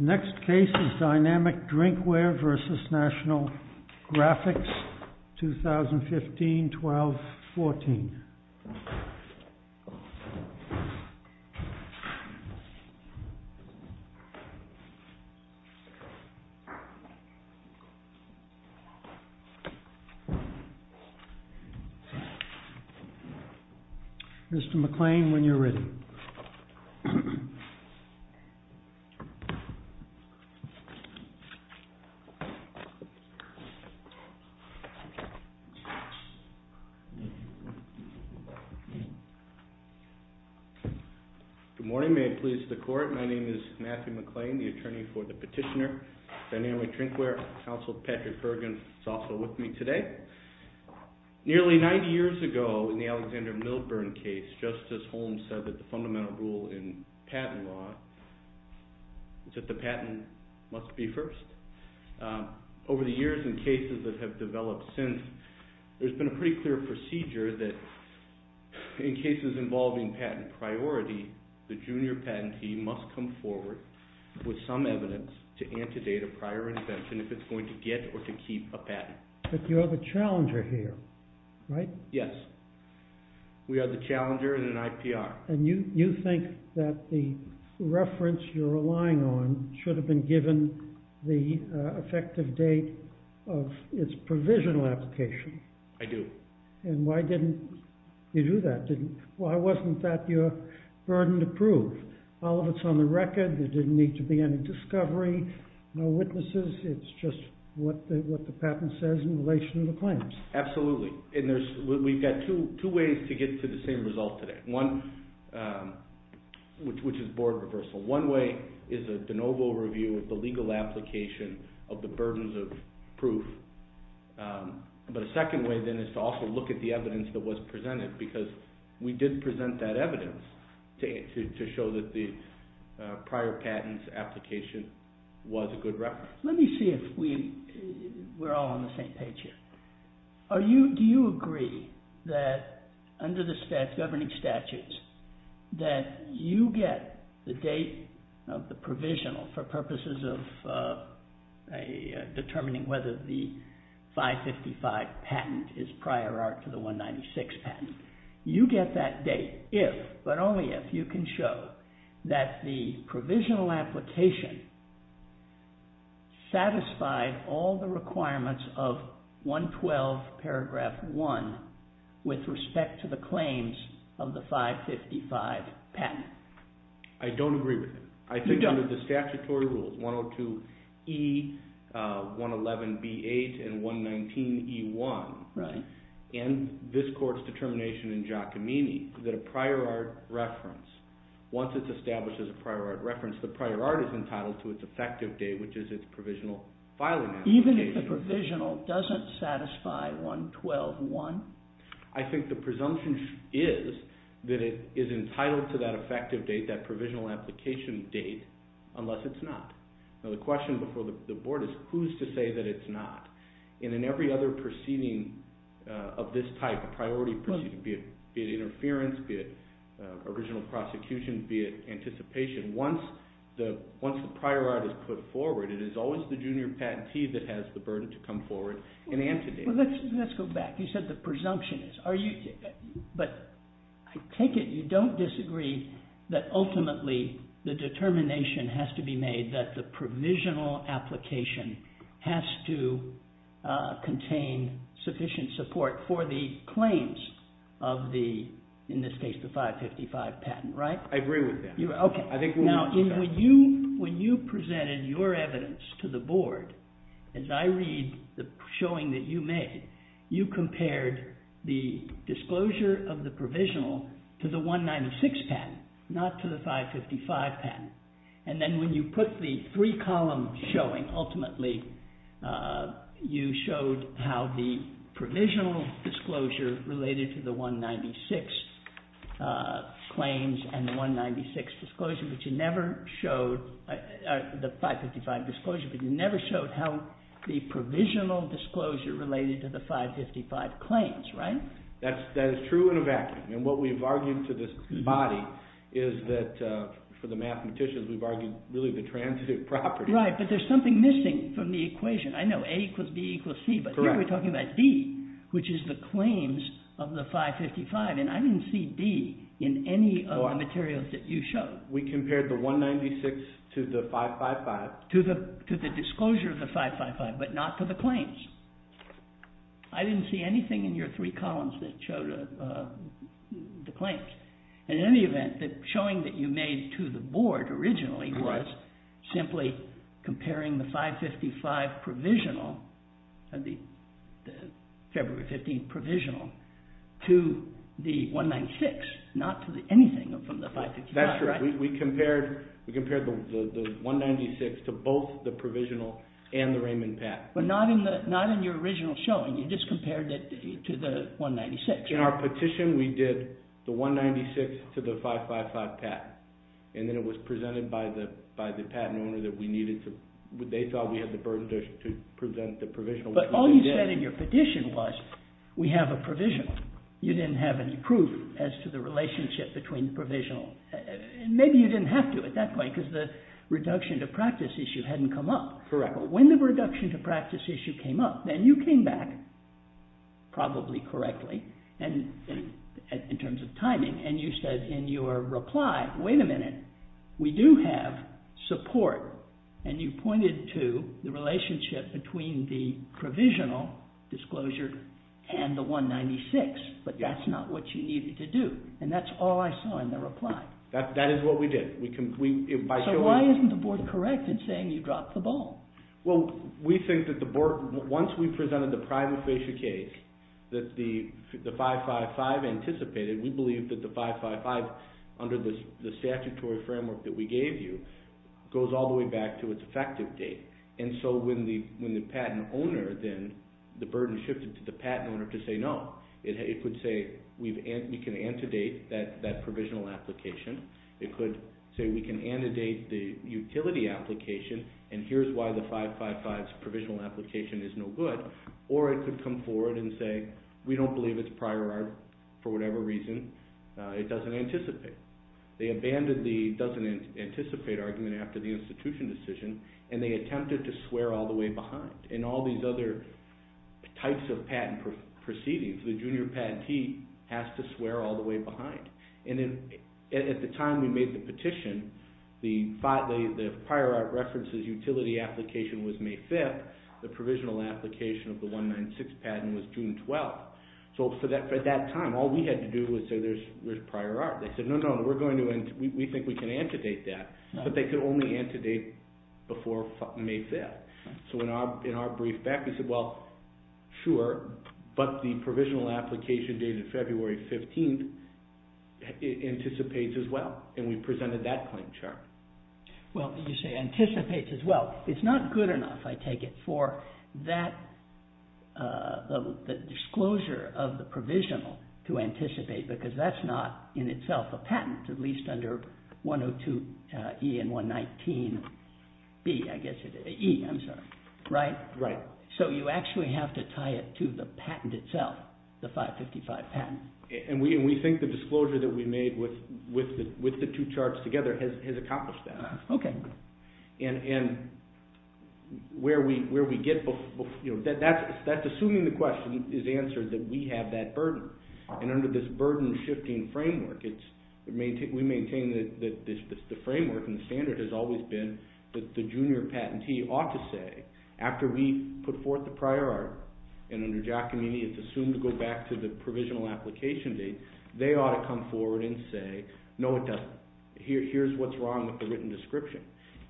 Next case is Dynamic Drinkware v. National Graphics, 2015-2014. Mr. McLean, when you're ready. Good morning. May it please the court. My name is Matthew McLean, the attorney for the petitioner, Dynamic Drinkware. Counsel Patrick Bergen is also with me today. Nearly 90 years ago in the Alexander Milburn case, Justice Holmes said that the fundamental rule in patent law is that the patent must be first. Over the years in cases that have developed since, there's been a pretty clear procedure that in cases involving patent priority, the junior patentee must come forward with some evidence to antedate a prior invention if it's going to get or to keep a patent. But you're the challenger here, right? Yes. We are the challenger in an IPR. And you think that the reference you're relying on should have been given the effective date of its provisional application? I do. And why didn't you do that? Why wasn't that your burden to prove? All of it's on the record. There didn't need to be any discovery, no witnesses. It's just what the patent says in relation to the claims. Absolutely. And we've got two ways to get to the same result today, which is board reversal. One way is a de novo review of the legal application of the burdens of proof. But a second way then is to also look at the evidence that was presented because we did present that evidence to show that the prior patents application was a good reference. Let me see if we're all on the same page here. Do you agree that under the governing statutes that you get the date of the provisional for purposes of determining whether the 555 patent is prior art to the 196 patent? You get that date if, but only if, you can show that the provisional application satisfied all the requirements of 112 paragraph 1 with respect to the claims of the 555 patent. I don't agree with it. I think under the statutory rules, 102E, 111B8, and 119E1, and this court's determination in Giacomini that a prior art reference, once it's established as a prior art reference, the prior art is entitled to its effective date, which is its provisional filing application. Even if the provisional doesn't satisfy 112.1? I think the presumption is that it is entitled to that effective date, that provisional application date, unless it's not. Now the question before the board is who's to say that it's not? And in every other proceeding of this type, a priority proceeding, be it interference, be it original prosecution, be it anticipation, once the prior art is put forward, it is always the junior patentee that has the burden to come forward and antedate. Let's go back. You said the presumption is. But I take it you don't disagree that ultimately the determination has to be made that the provisional application has to contain sufficient support for the claims of the, in this case, the 555 patent, right? I agree with that. Okay. Now when you presented your evidence to the board, as I read the showing that you made, you compared the disclosure of the provisional to the 196 patent, not to the 555 patent. And then when you put the three-column showing, ultimately, you showed how the provisional disclosure related to the 196 claims and the 196 disclosure, but you never showed the 555 disclosure, but you never showed how the provisional disclosure related to the 555 claims, right? That is true in a vacuum. And what we've argued to this body is that, for the mathematicians, we've argued really the transitive property. Right, but there's something missing from the equation. I know A equals B equals C, but here we're talking about B, which is the claims of the 555. And I didn't see B in any of the materials that you showed. We compared the 196 to the 555. To the disclosure of the 555, but not to the claims. I didn't see anything in your three columns that showed the claims. In any event, the showing that you made to the board originally was simply comparing the 555 provisional, the February 15 provisional, to the 196, not to anything from the 555, right? We compared the 196 to both the provisional and the Raymond patent. But not in your original showing. You just compared it to the 196. In our petition, we did the 196 to the 555 patent, and then it was presented by the patent owner that they thought we had the burden to present the provisional, which we did. All you said in your petition was, we have a provisional. You didn't have any proof as to the relationship between the provisional. And maybe you didn't have to at that point, because the reduction to practice issue hadn't come up. Correct. When the reduction to practice issue came up, then you came back, probably correctly, in terms of timing, and you said in your reply, wait a minute, we do have support. And you pointed to the relationship between the provisional disclosure and the 196, but that's not what you needed to do. And that's all I saw in the reply. That is what we did. So why isn't the board correct in saying you dropped the ball? Well, we think that the board, once we presented the private facial case that the 555 anticipated, we believe that the 555, under the statutory framework that we gave you, goes all the way back to its effective date. And so when the patent owner then, the burden shifted to the patent owner to say no. It could say we can antedate that provisional application. It could say we can antedate the utility application, and here's why the 555's provisional application is no good. Or it could come forward and say we don't believe its prior art, for whatever reason, it doesn't anticipate. They abandoned the doesn't anticipate argument after the institution decision, and they attempted to swear all the way behind. And all these other types of patent proceedings, the junior patentee has to swear all the way behind. And at the time we made the petition, the prior art references utility application was May 5th. The provisional application of the 196 patent was June 12th. So for that time, all we had to do was say there's prior art. They said no, no, we think we can antedate that. But they could only antedate before May 5th. So in our brief back, we said well, sure, but the provisional application dated February 15th anticipates as well. And we presented that claim, Chairman. Well, you say anticipates as well. It's not good enough, I take it, for that disclosure of the provisional to anticipate, because that's not in itself a patent, at least under 102E and 119B, I guess, E, I'm sorry. Right? Right. So you actually have to tie it to the patent itself, the 555 patent. And we think the disclosure that we made with the two charts together has accomplished that. Okay. And where we get, that's assuming the question is answered, that we have that burden. And under this burden-shifting framework, we maintain that the framework and the standard has always been that the junior patentee ought to say, after we put forth the prior art, and under Giacomini it's assumed to go back to the provisional application date, they ought to come forward and say, no, it doesn't. Here's what's wrong with the written description.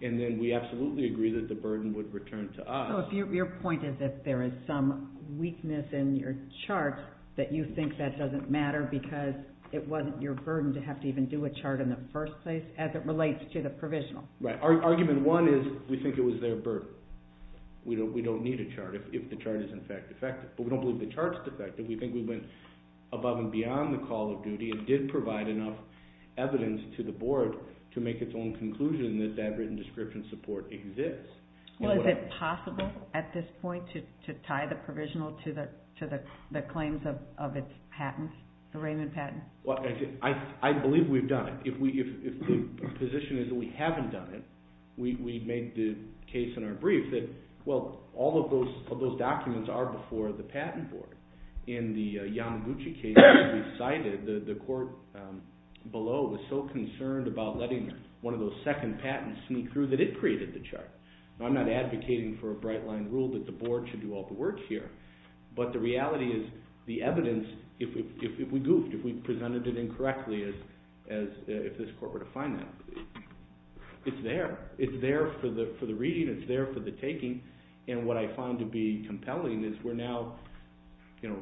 And then we absolutely agree that the burden would return to us. So your point is that there is some weakness in your chart that you think that doesn't matter because it wasn't your burden to have to even do a chart in the first place as it relates to the provisional. Right. Argument one is we think it was their burden. We don't need a chart if the chart is, in fact, defective. But we don't believe the chart's defective. We think we went above and beyond the call of duty and did provide enough evidence to the board to make its own conclusion that that written description support exists. Well, is it possible at this point to tie the provisional to the claims of its patent, the Raymond patent? Well, I believe we've done it. If the position is that we haven't done it, we made the case in our brief that, well, all of those documents are before the patent board. In the Yamaguchi case that we cited, the court below was so concerned about letting one of those second patents sneak through that it created the chart. I'm not advocating for a bright-line rule that the board should do all the work here, but the reality is the evidence, if we goofed, if we presented it incorrectly as if this court were to find that, it's there. It's there for the reading. It's there for the taking. And what I find to be compelling is we're now, you know,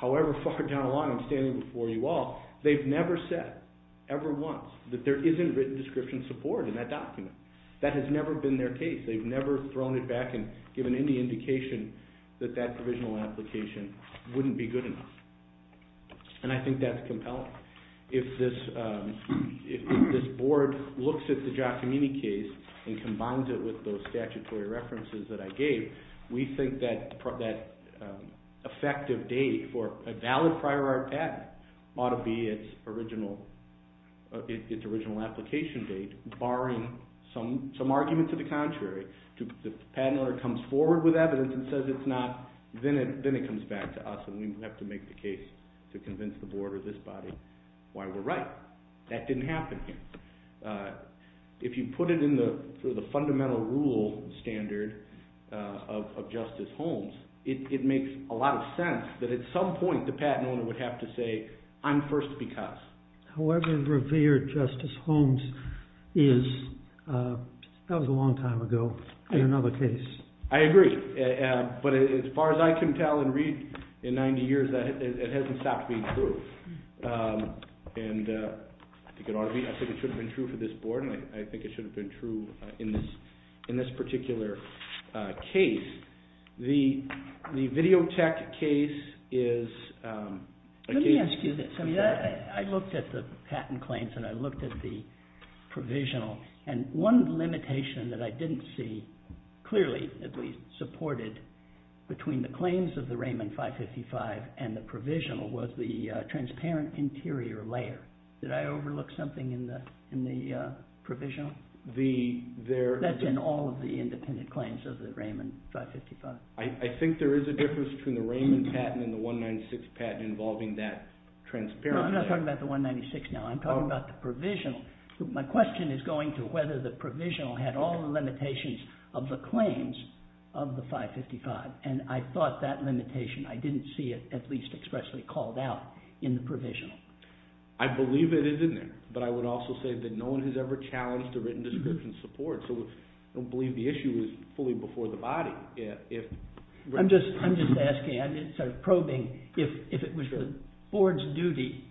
however far down the line I'm standing before you all, they've never said ever once that there isn't written description support in that document. That has never been their case. They've never thrown it back and given any indication that that provisional application wouldn't be good enough. And I think that's compelling. If this board looks at the Giacomini case and combines it with those statutory references that I gave, we think that effective date for a valid prior art patent ought to be its original application date, barring some argument to the contrary. If the patent owner comes forward with evidence and says it's not, then it comes back to us and we have to make the case to convince the board or this body why we're right. That didn't happen here. If you put it in the fundamental rule standard of Justice Holmes, it makes a lot of sense that at some point the patent owner would have to say, I'm first because. However revered Justice Holmes is, that was a long time ago in another case. I agree. But as far as I can tell and read in 90 years, it hasn't stopped being true. And I think it ought to be. I think it should have been true for this board and I think it should have been true in this particular case. The Videotech case is... Let me ask you this. I looked at the patent claims and I looked at the provisional, and one limitation that I didn't see clearly at least supported between the claims of the Raymond 555 and the provisional was the transparent interior layer. Did I overlook something in the provisional? That's in all of the independent claims of the Raymond 555. I think there is a difference between the Raymond patent and the 196 patent involving that transparent layer. No, I'm not talking about the 196 now. I'm talking about the provisional. My question is going to whether the provisional had all the limitations of the claims of the 555. And I thought that limitation, I didn't see it at least expressly called out in the provisional. I believe it is in there. But I would also say that no one has ever challenged a written description support. So I don't believe the issue is fully before the body. I'm just asking. I'm just sort of probing. If it was the board's duty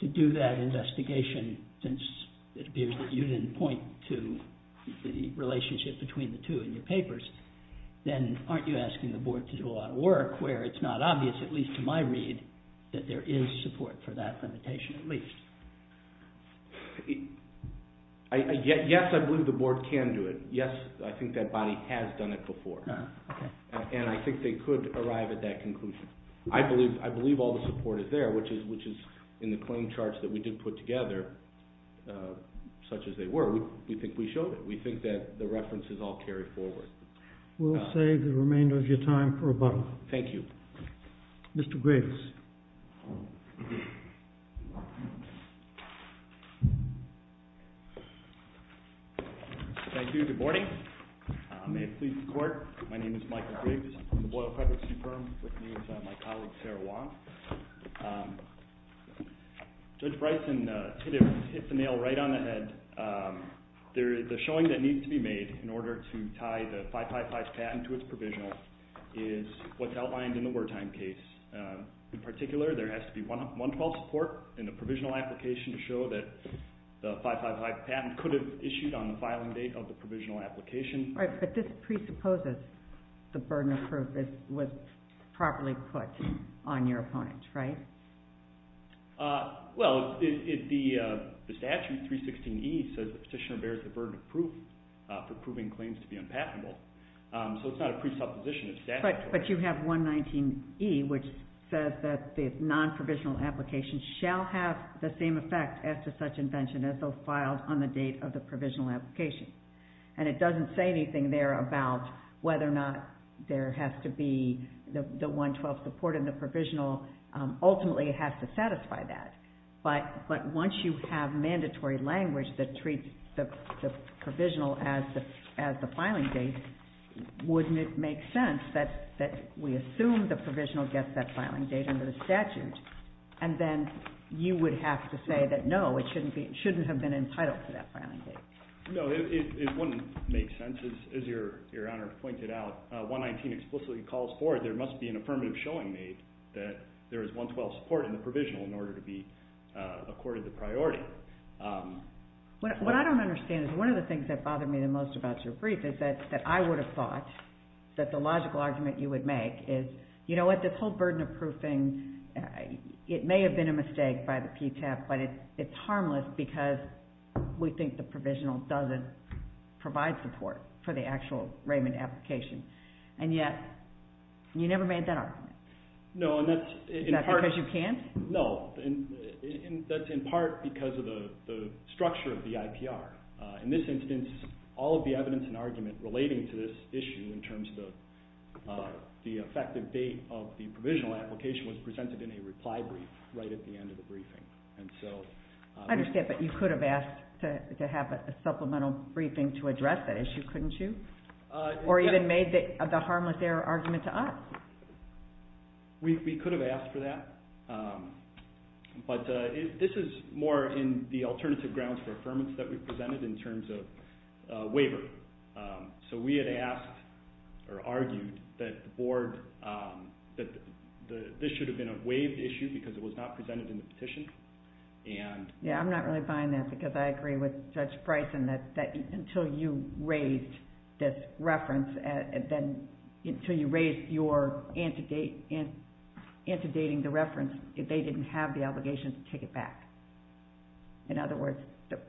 to do that investigation, since it appears that you didn't point to the relationship between the two in your papers, then aren't you asking the board to do a lot of work where it's not obvious, at least to my read, that there is support for that limitation at least? Yes, I believe the board can do it. Yes, I think that body has done it before. And I think they could arrive at that conclusion. I believe all the support is there, which is in the claim charts that we did put together, such as they were. We think we showed it. We think that the references all carry forward. We'll save the remainder of your time for rebuttal. Thank you. Mr. Griggs. Thank you. Good morning. May it please the Court, my name is Michael Griggs. I'm from the Boyle Privacy Firm, with me is my colleague Sarah Wong. Judge Bryson hit the nail right on the head. The showing that needs to be made in order to tie the 555 patent to its provisional is what's outlined in the wartime case. In particular, there has to be 112 support in the provisional application to show that the 555 patent could have issued on the filing date of the provisional application. Right, but this presupposes the burden of proof was properly put on your opponents, right? Well, the statute 316E says the petitioner bears the burden of proof for proving claims to be unpatentable. So it's not a presupposition. But you have 119E, which says that the non-provisional application shall have the same effect as to such invention as though filed on the date of the provisional application. And it doesn't say anything there about whether or not there has to be the 112 support in the provisional. Ultimately, it has to satisfy that. But once you have mandatory language that treats the provisional as the filing date, wouldn't it make sense that we assume the provisional gets that filing date under the statute? And then you would have to say that, no, it shouldn't have been entitled to that filing date. No, it wouldn't make sense. As Your Honor pointed out, 119 explicitly calls for it. So I don't think that there is 112 support in the provisional in order to be accorded the priority. What I don't understand is one of the things that bothered me the most about your brief is that I would have thought that the logical argument you would make is, you know what, this whole burden of proofing, it may have been a mistake by the PTAP, but it's harmless because we think the provisional doesn't provide support for the actual Raymond application. And yet, you never made that argument. Is that because you can't? No. That's in part because of the structure of the IPR. In this instance, all of the evidence and argument relating to this issue in terms of the effective date of the provisional application was presented in a reply brief right at the end of the briefing. I understand, but you could have asked to have a supplemental briefing to address that issue, couldn't you? Or even made the harmless error argument to us. We could have asked for that, but this is more in the alternative grounds for affirmance that we presented in terms of waiver. So we had asked or argued that this should have been a waived issue because it was not presented in the petition. I'm not really buying that because I agree with Judge Bryson that until you raised this reference, until you raised your anti-dating the reference, they didn't have the obligation to take it back. In other words,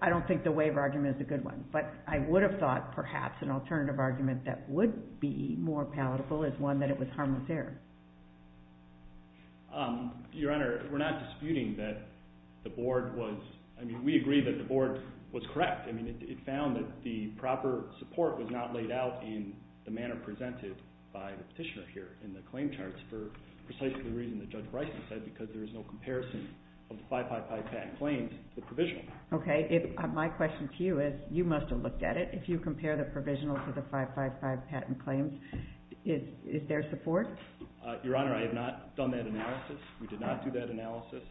I don't think the waiver argument is a good one, but I would have thought perhaps an alternative argument that would be more palatable is one that it was harmless error. Your Honor, we're not disputing that the Board was... I mean, we agree that the Board was correct. I mean, it found that the proper support was not laid out in the manner presented by the petitioner here in the claim charts for precisely the reason that Judge Bryson said, because there is no comparison of the 555 patent claims to the provisional. Okay. My question to you is, you must have looked at it. If you compare the provisional to the 555 patent claims, is there support? Your Honor, I have not done that analysis. We did not do that analysis.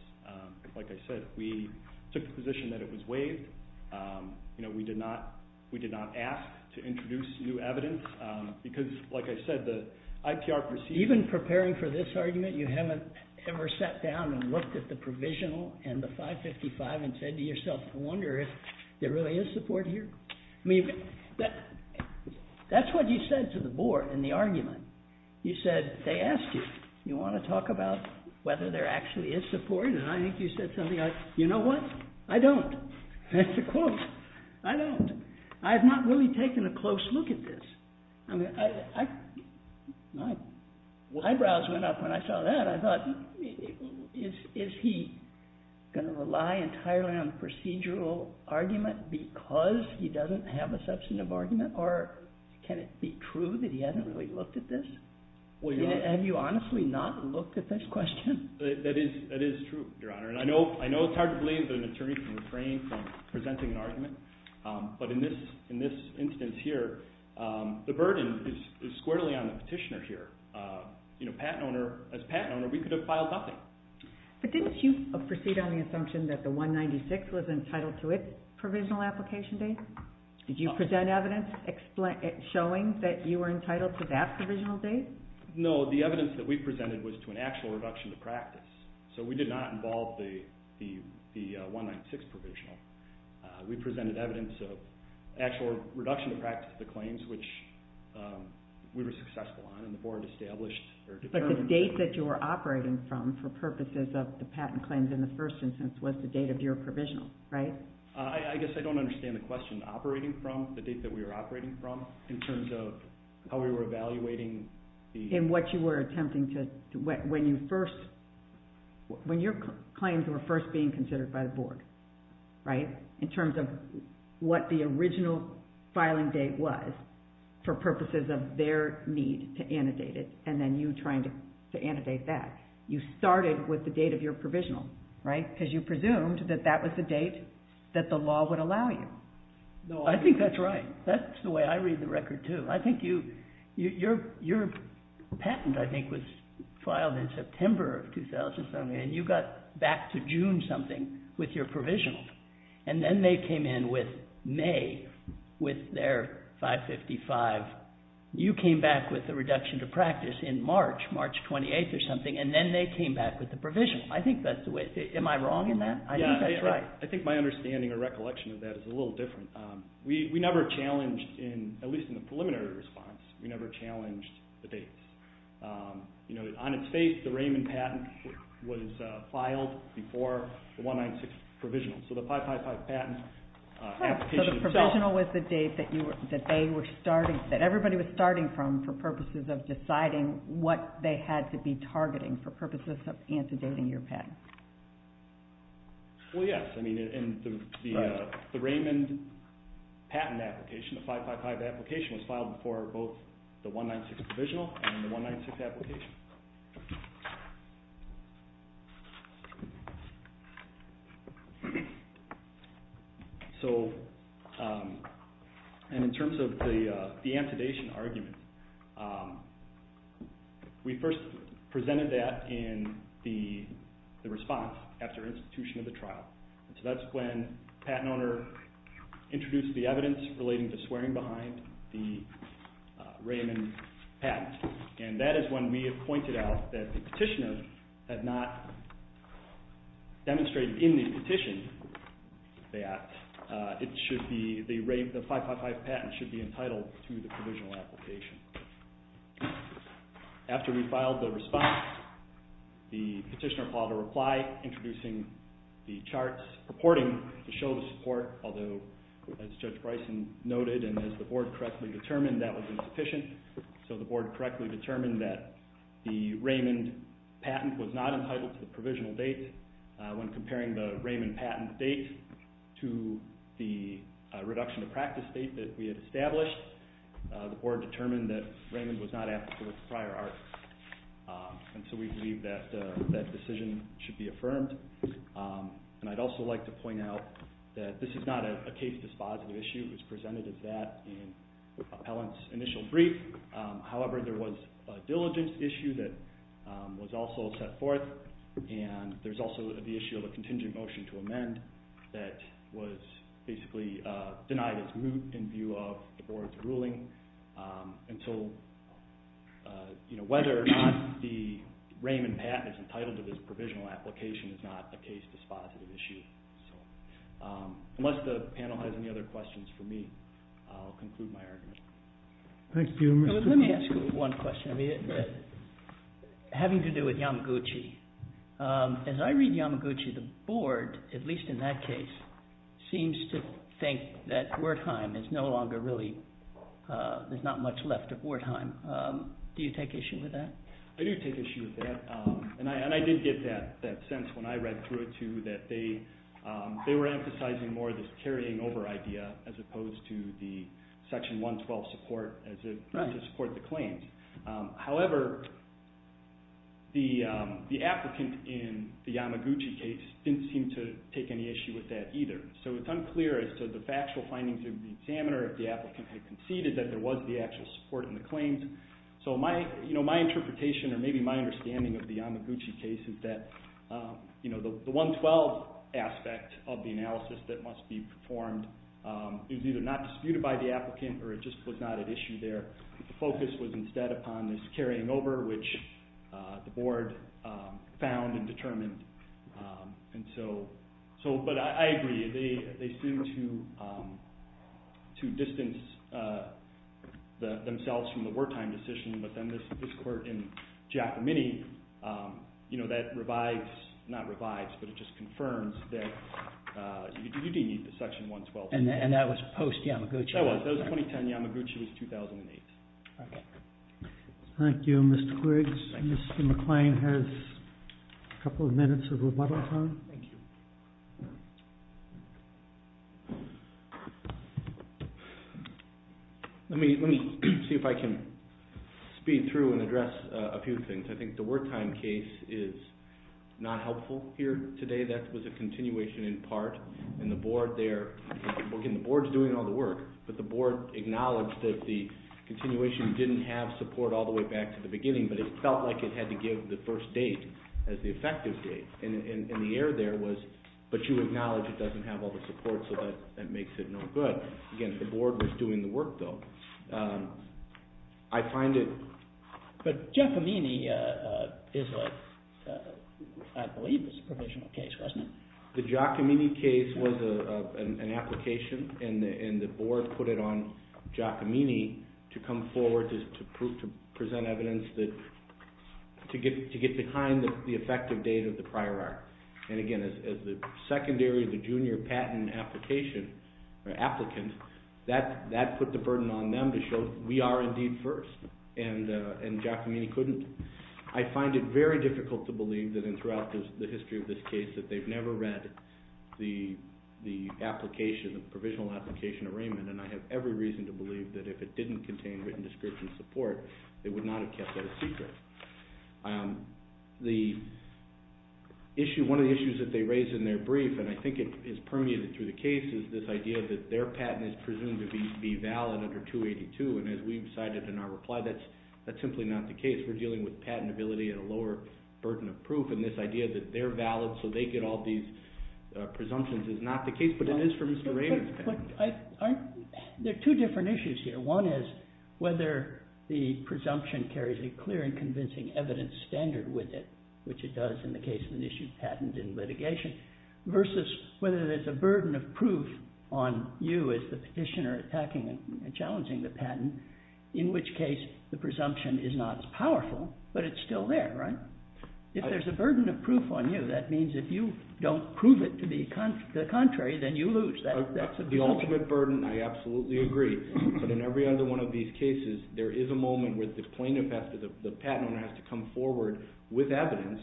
Like I said, we took the position that it was waived. You know, we did not ask to introduce new evidence because, like I said, the IPR... Even preparing for this argument, you haven't ever sat down and looked at the provisional and the 555 and said to yourself, I wonder if there really is support here? I mean, that's what you said to the Board in the argument. You said, they asked you, you want to talk about whether there actually is support? And I think you said something like, you know what? I don't. That's a quote. I don't. I have not really taken a close look at this. I mean, my eyebrows went up when I saw that. I thought, is he going to rely entirely on a procedural argument because he doesn't have a substantive argument, or can it be true that he hasn't really looked at this? Have you honestly not looked at this question? That is true, Your Honor. And I know it's hard to believe that an attorney can refrain from presenting an argument, but in this instance here, the burden is squarely on the petitioner here. You know, as a patent owner, we could have filed nothing. But didn't you proceed on the assumption that the 196 was entitled to its provisional application date? Did you present evidence showing that you were entitled to that provisional date? No. The evidence that we presented was to an actual reduction to practice. So we did not involve the 196 provisional. We presented evidence of actual reduction to practice of the claims, which we were successful on, and the Board established their deferment. But the date that you were operating from for purposes of the patent claims in the first instance was the date of your provisional, right? I guess I don't understand the question. Operating from the date that we were operating from in terms of how we were evaluating the... In what you were attempting to... When you first... When your claims were first being considered by the Board, right? In terms of what the original filing date was for purposes of their need to annotate it, and then you trying to annotate that. You started with the date of your provisional, right? Because you presumed that that was the date that the law would allow you. I think that's right. That's the way I read the record, too. I think you... Your patent, I think, was filed in September of 2007, and you got back to June something with your provisional. And then they came in with May with their 555. You came back with the reduction to practice in March, March 28th or something, and then they came back with the provisional. I think that's the way... Am I wrong in that? I think that's right. I think my understanding or recollection of that is a little different. We never challenged, at least in the preliminary response, we never challenged the dates. On its face, the Raymond patent was filed before the 196 provisional. So the 555 patent application itself... That's where everybody was starting from for purposes of deciding what they had to be targeting for purposes of antedating your patent. Well, yes. I mean, the Raymond patent application, the 555 application, was filed before both the 196 provisional and the 196 application. And in terms of the antedation argument, we first presented that in the response after institution of the trial. So that's when the patent owner introduced the evidence relating to swearing behind the Raymond patent. And that is when we have pointed out that the petitioner had not demonstrated in the petition that the 555 patent should be entitled to the provisional application. After we filed the response, the petitioner filed a reply introducing the charts purporting to show the support, although, as Judge Bryson noted and as the board correctly determined, that was insufficient. So the board correctly determined that the Raymond patent was not entitled to the provisional date. When comparing the Raymond patent date to the reduction of practice date that we had established, the board determined that Raymond was not applicable to prior art. And so we believe that that decision should be affirmed. And I'd also like to point out that this is not a case dispositive issue. It was presented as that in Appellant's initial brief. However, there was a diligence issue that was also set forth. And there's also the issue of a contingent motion to amend that was basically denied as moot in view of the board's ruling. And so whether or not the Raymond patent is entitled to this provisional application is not a case dispositive issue. Unless the panel has any other questions for me, I'll conclude my argument. Thank you. Let me ask you one question having to do with Yamaguchi. As I read Yamaguchi, the board, at least in that case, seems to think that Wertheim is no longer really there's not much left of Wertheim. Do you take issue with that? I do take issue with that. And I did get that sense when I read through it too that they were emphasizing more this carrying over idea as opposed to the Section 112 support to support the claims. However, the applicant in the Yamaguchi case didn't seem to take any issue with that either. So it's unclear as to the factual findings of the examiner if the applicant had conceded that there was the actual support in the claims. So my interpretation or maybe my understanding of the Yamaguchi case is that the 112 aspect of the analysis that must be performed is either not disputed by the applicant or it just was not at issue there. The focus was instead upon this carrying over which the board found and determined. But I agree. They seem to distance themselves from the Wertheim decision but then this court in Giacomini, that revives, not revives, but it just confirms that you do need the Section 112. And that was post-Yamaguchi? That was. That was 2010. Yamaguchi was 2008. Okay. Thank you, Mr. Quiggs. Mr. McLean has a couple of minutes of rebuttal time. Thank you. Let me see if I can speed through and address a few things. I think the Wertheim case is not helpful here today. That was a continuation in part. And the board there, again, the board's doing all the work, but the board acknowledged that the continuation didn't have support all the way back to the beginning, but it felt like it had to give the first date as the effective date. And the error there was, but you acknowledge it doesn't have all the support, so that makes it no good. Again, the board was doing the work, though. I find it... But Giacomini is a, I believe it's a provisional case, wasn't it? The Giacomini case was an application, and the board put it on Giacomini to come forward to present evidence to get behind the effective date of the prior art. And again, as the secondary, the junior patent applicant, that put the burden on them to show we are indeed first, and Giacomini couldn't. I find it very difficult to believe that throughout the history of this case that they've never read the application, the provisional application arraignment, and I have every reason to believe that if it didn't contain written description support, they would not have kept that a secret. The issue, one of the issues that they raise in their brief, and I think it is permeated through the case, is this idea that their patent is presumed to be valid under 282, and as we've cited in our reply, that's simply not the case. We're dealing with patentability and a lower burden of proof, and this idea that they're valid so they get all these presumptions is not the case, but it is for Mr. Rader's patent. There are two different issues here. One is whether the presumption carries a clear and convincing evidence standard with it, which it does in the case of an issued patent in litigation, versus whether there's a burden of proof on you as the petitioner attacking and challenging the patent, in which case the presumption is not as powerful, but it's still there, right? If there's a burden of proof on you, that means if you don't prove it to be the contrary, then you lose. The ultimate burden, I absolutely agree, but in every other one of these cases, there is a moment where the plaintiff has to come forward with evidence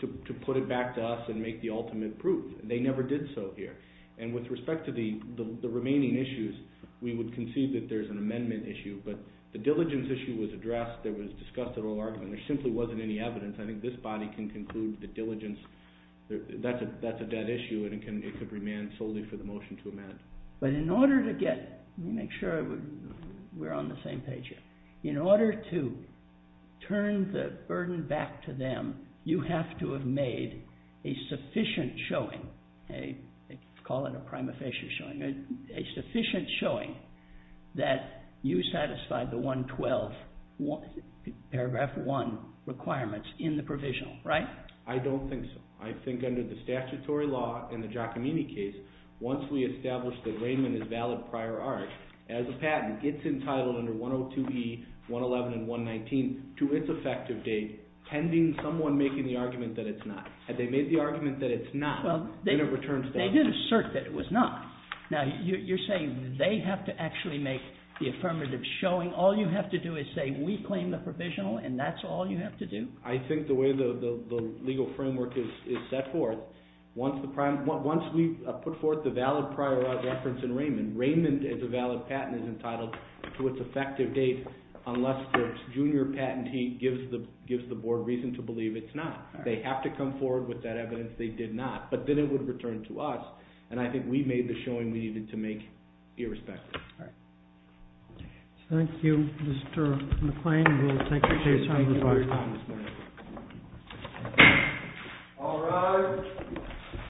to put it back to us and make the ultimate proof. They never did so here. And with respect to the remaining issues, we would concede that there's an amendment issue, but the diligence issue was addressed. It was discussed at oral argument. There simply wasn't any evidence. I think this body can conclude that diligence, that's a dead issue, and it could remain solely for the motion to amend. But in order to get, let me make sure we're on the same page here, in order to turn the burden back to them, you have to have made a sufficient showing, let's call it a prima facie showing, a sufficient showing that you satisfied the 112, paragraph 1 requirements, in the provisional, right? I don't think so. I think under the statutory law in the Giacomini case, once we establish that Raymond is valid prior art, as a patent, it's entitled under 102E, 111, and 119, to its effective date, pending someone making the argument that it's not. Had they made the argument that it's not, then it returns to us. Well, they did assert that it was not. Now, you're saying they have to actually make the affirmative showing? All you have to do is say, we claim the provisional, and that's all you have to do? I think the way the legal framework is set forth, once we put forth the valid prior art reference in Raymond, Raymond, as a valid patent, is entitled to its effective date, unless the junior patentee gives the board reason to believe it's not. They have to come forward with that evidence they did not, but then it would return to us, and I think we made the showing we needed to make irrespective. All right. Thank you, Mr. McClain. Thank you, Mr. McClain. All rise.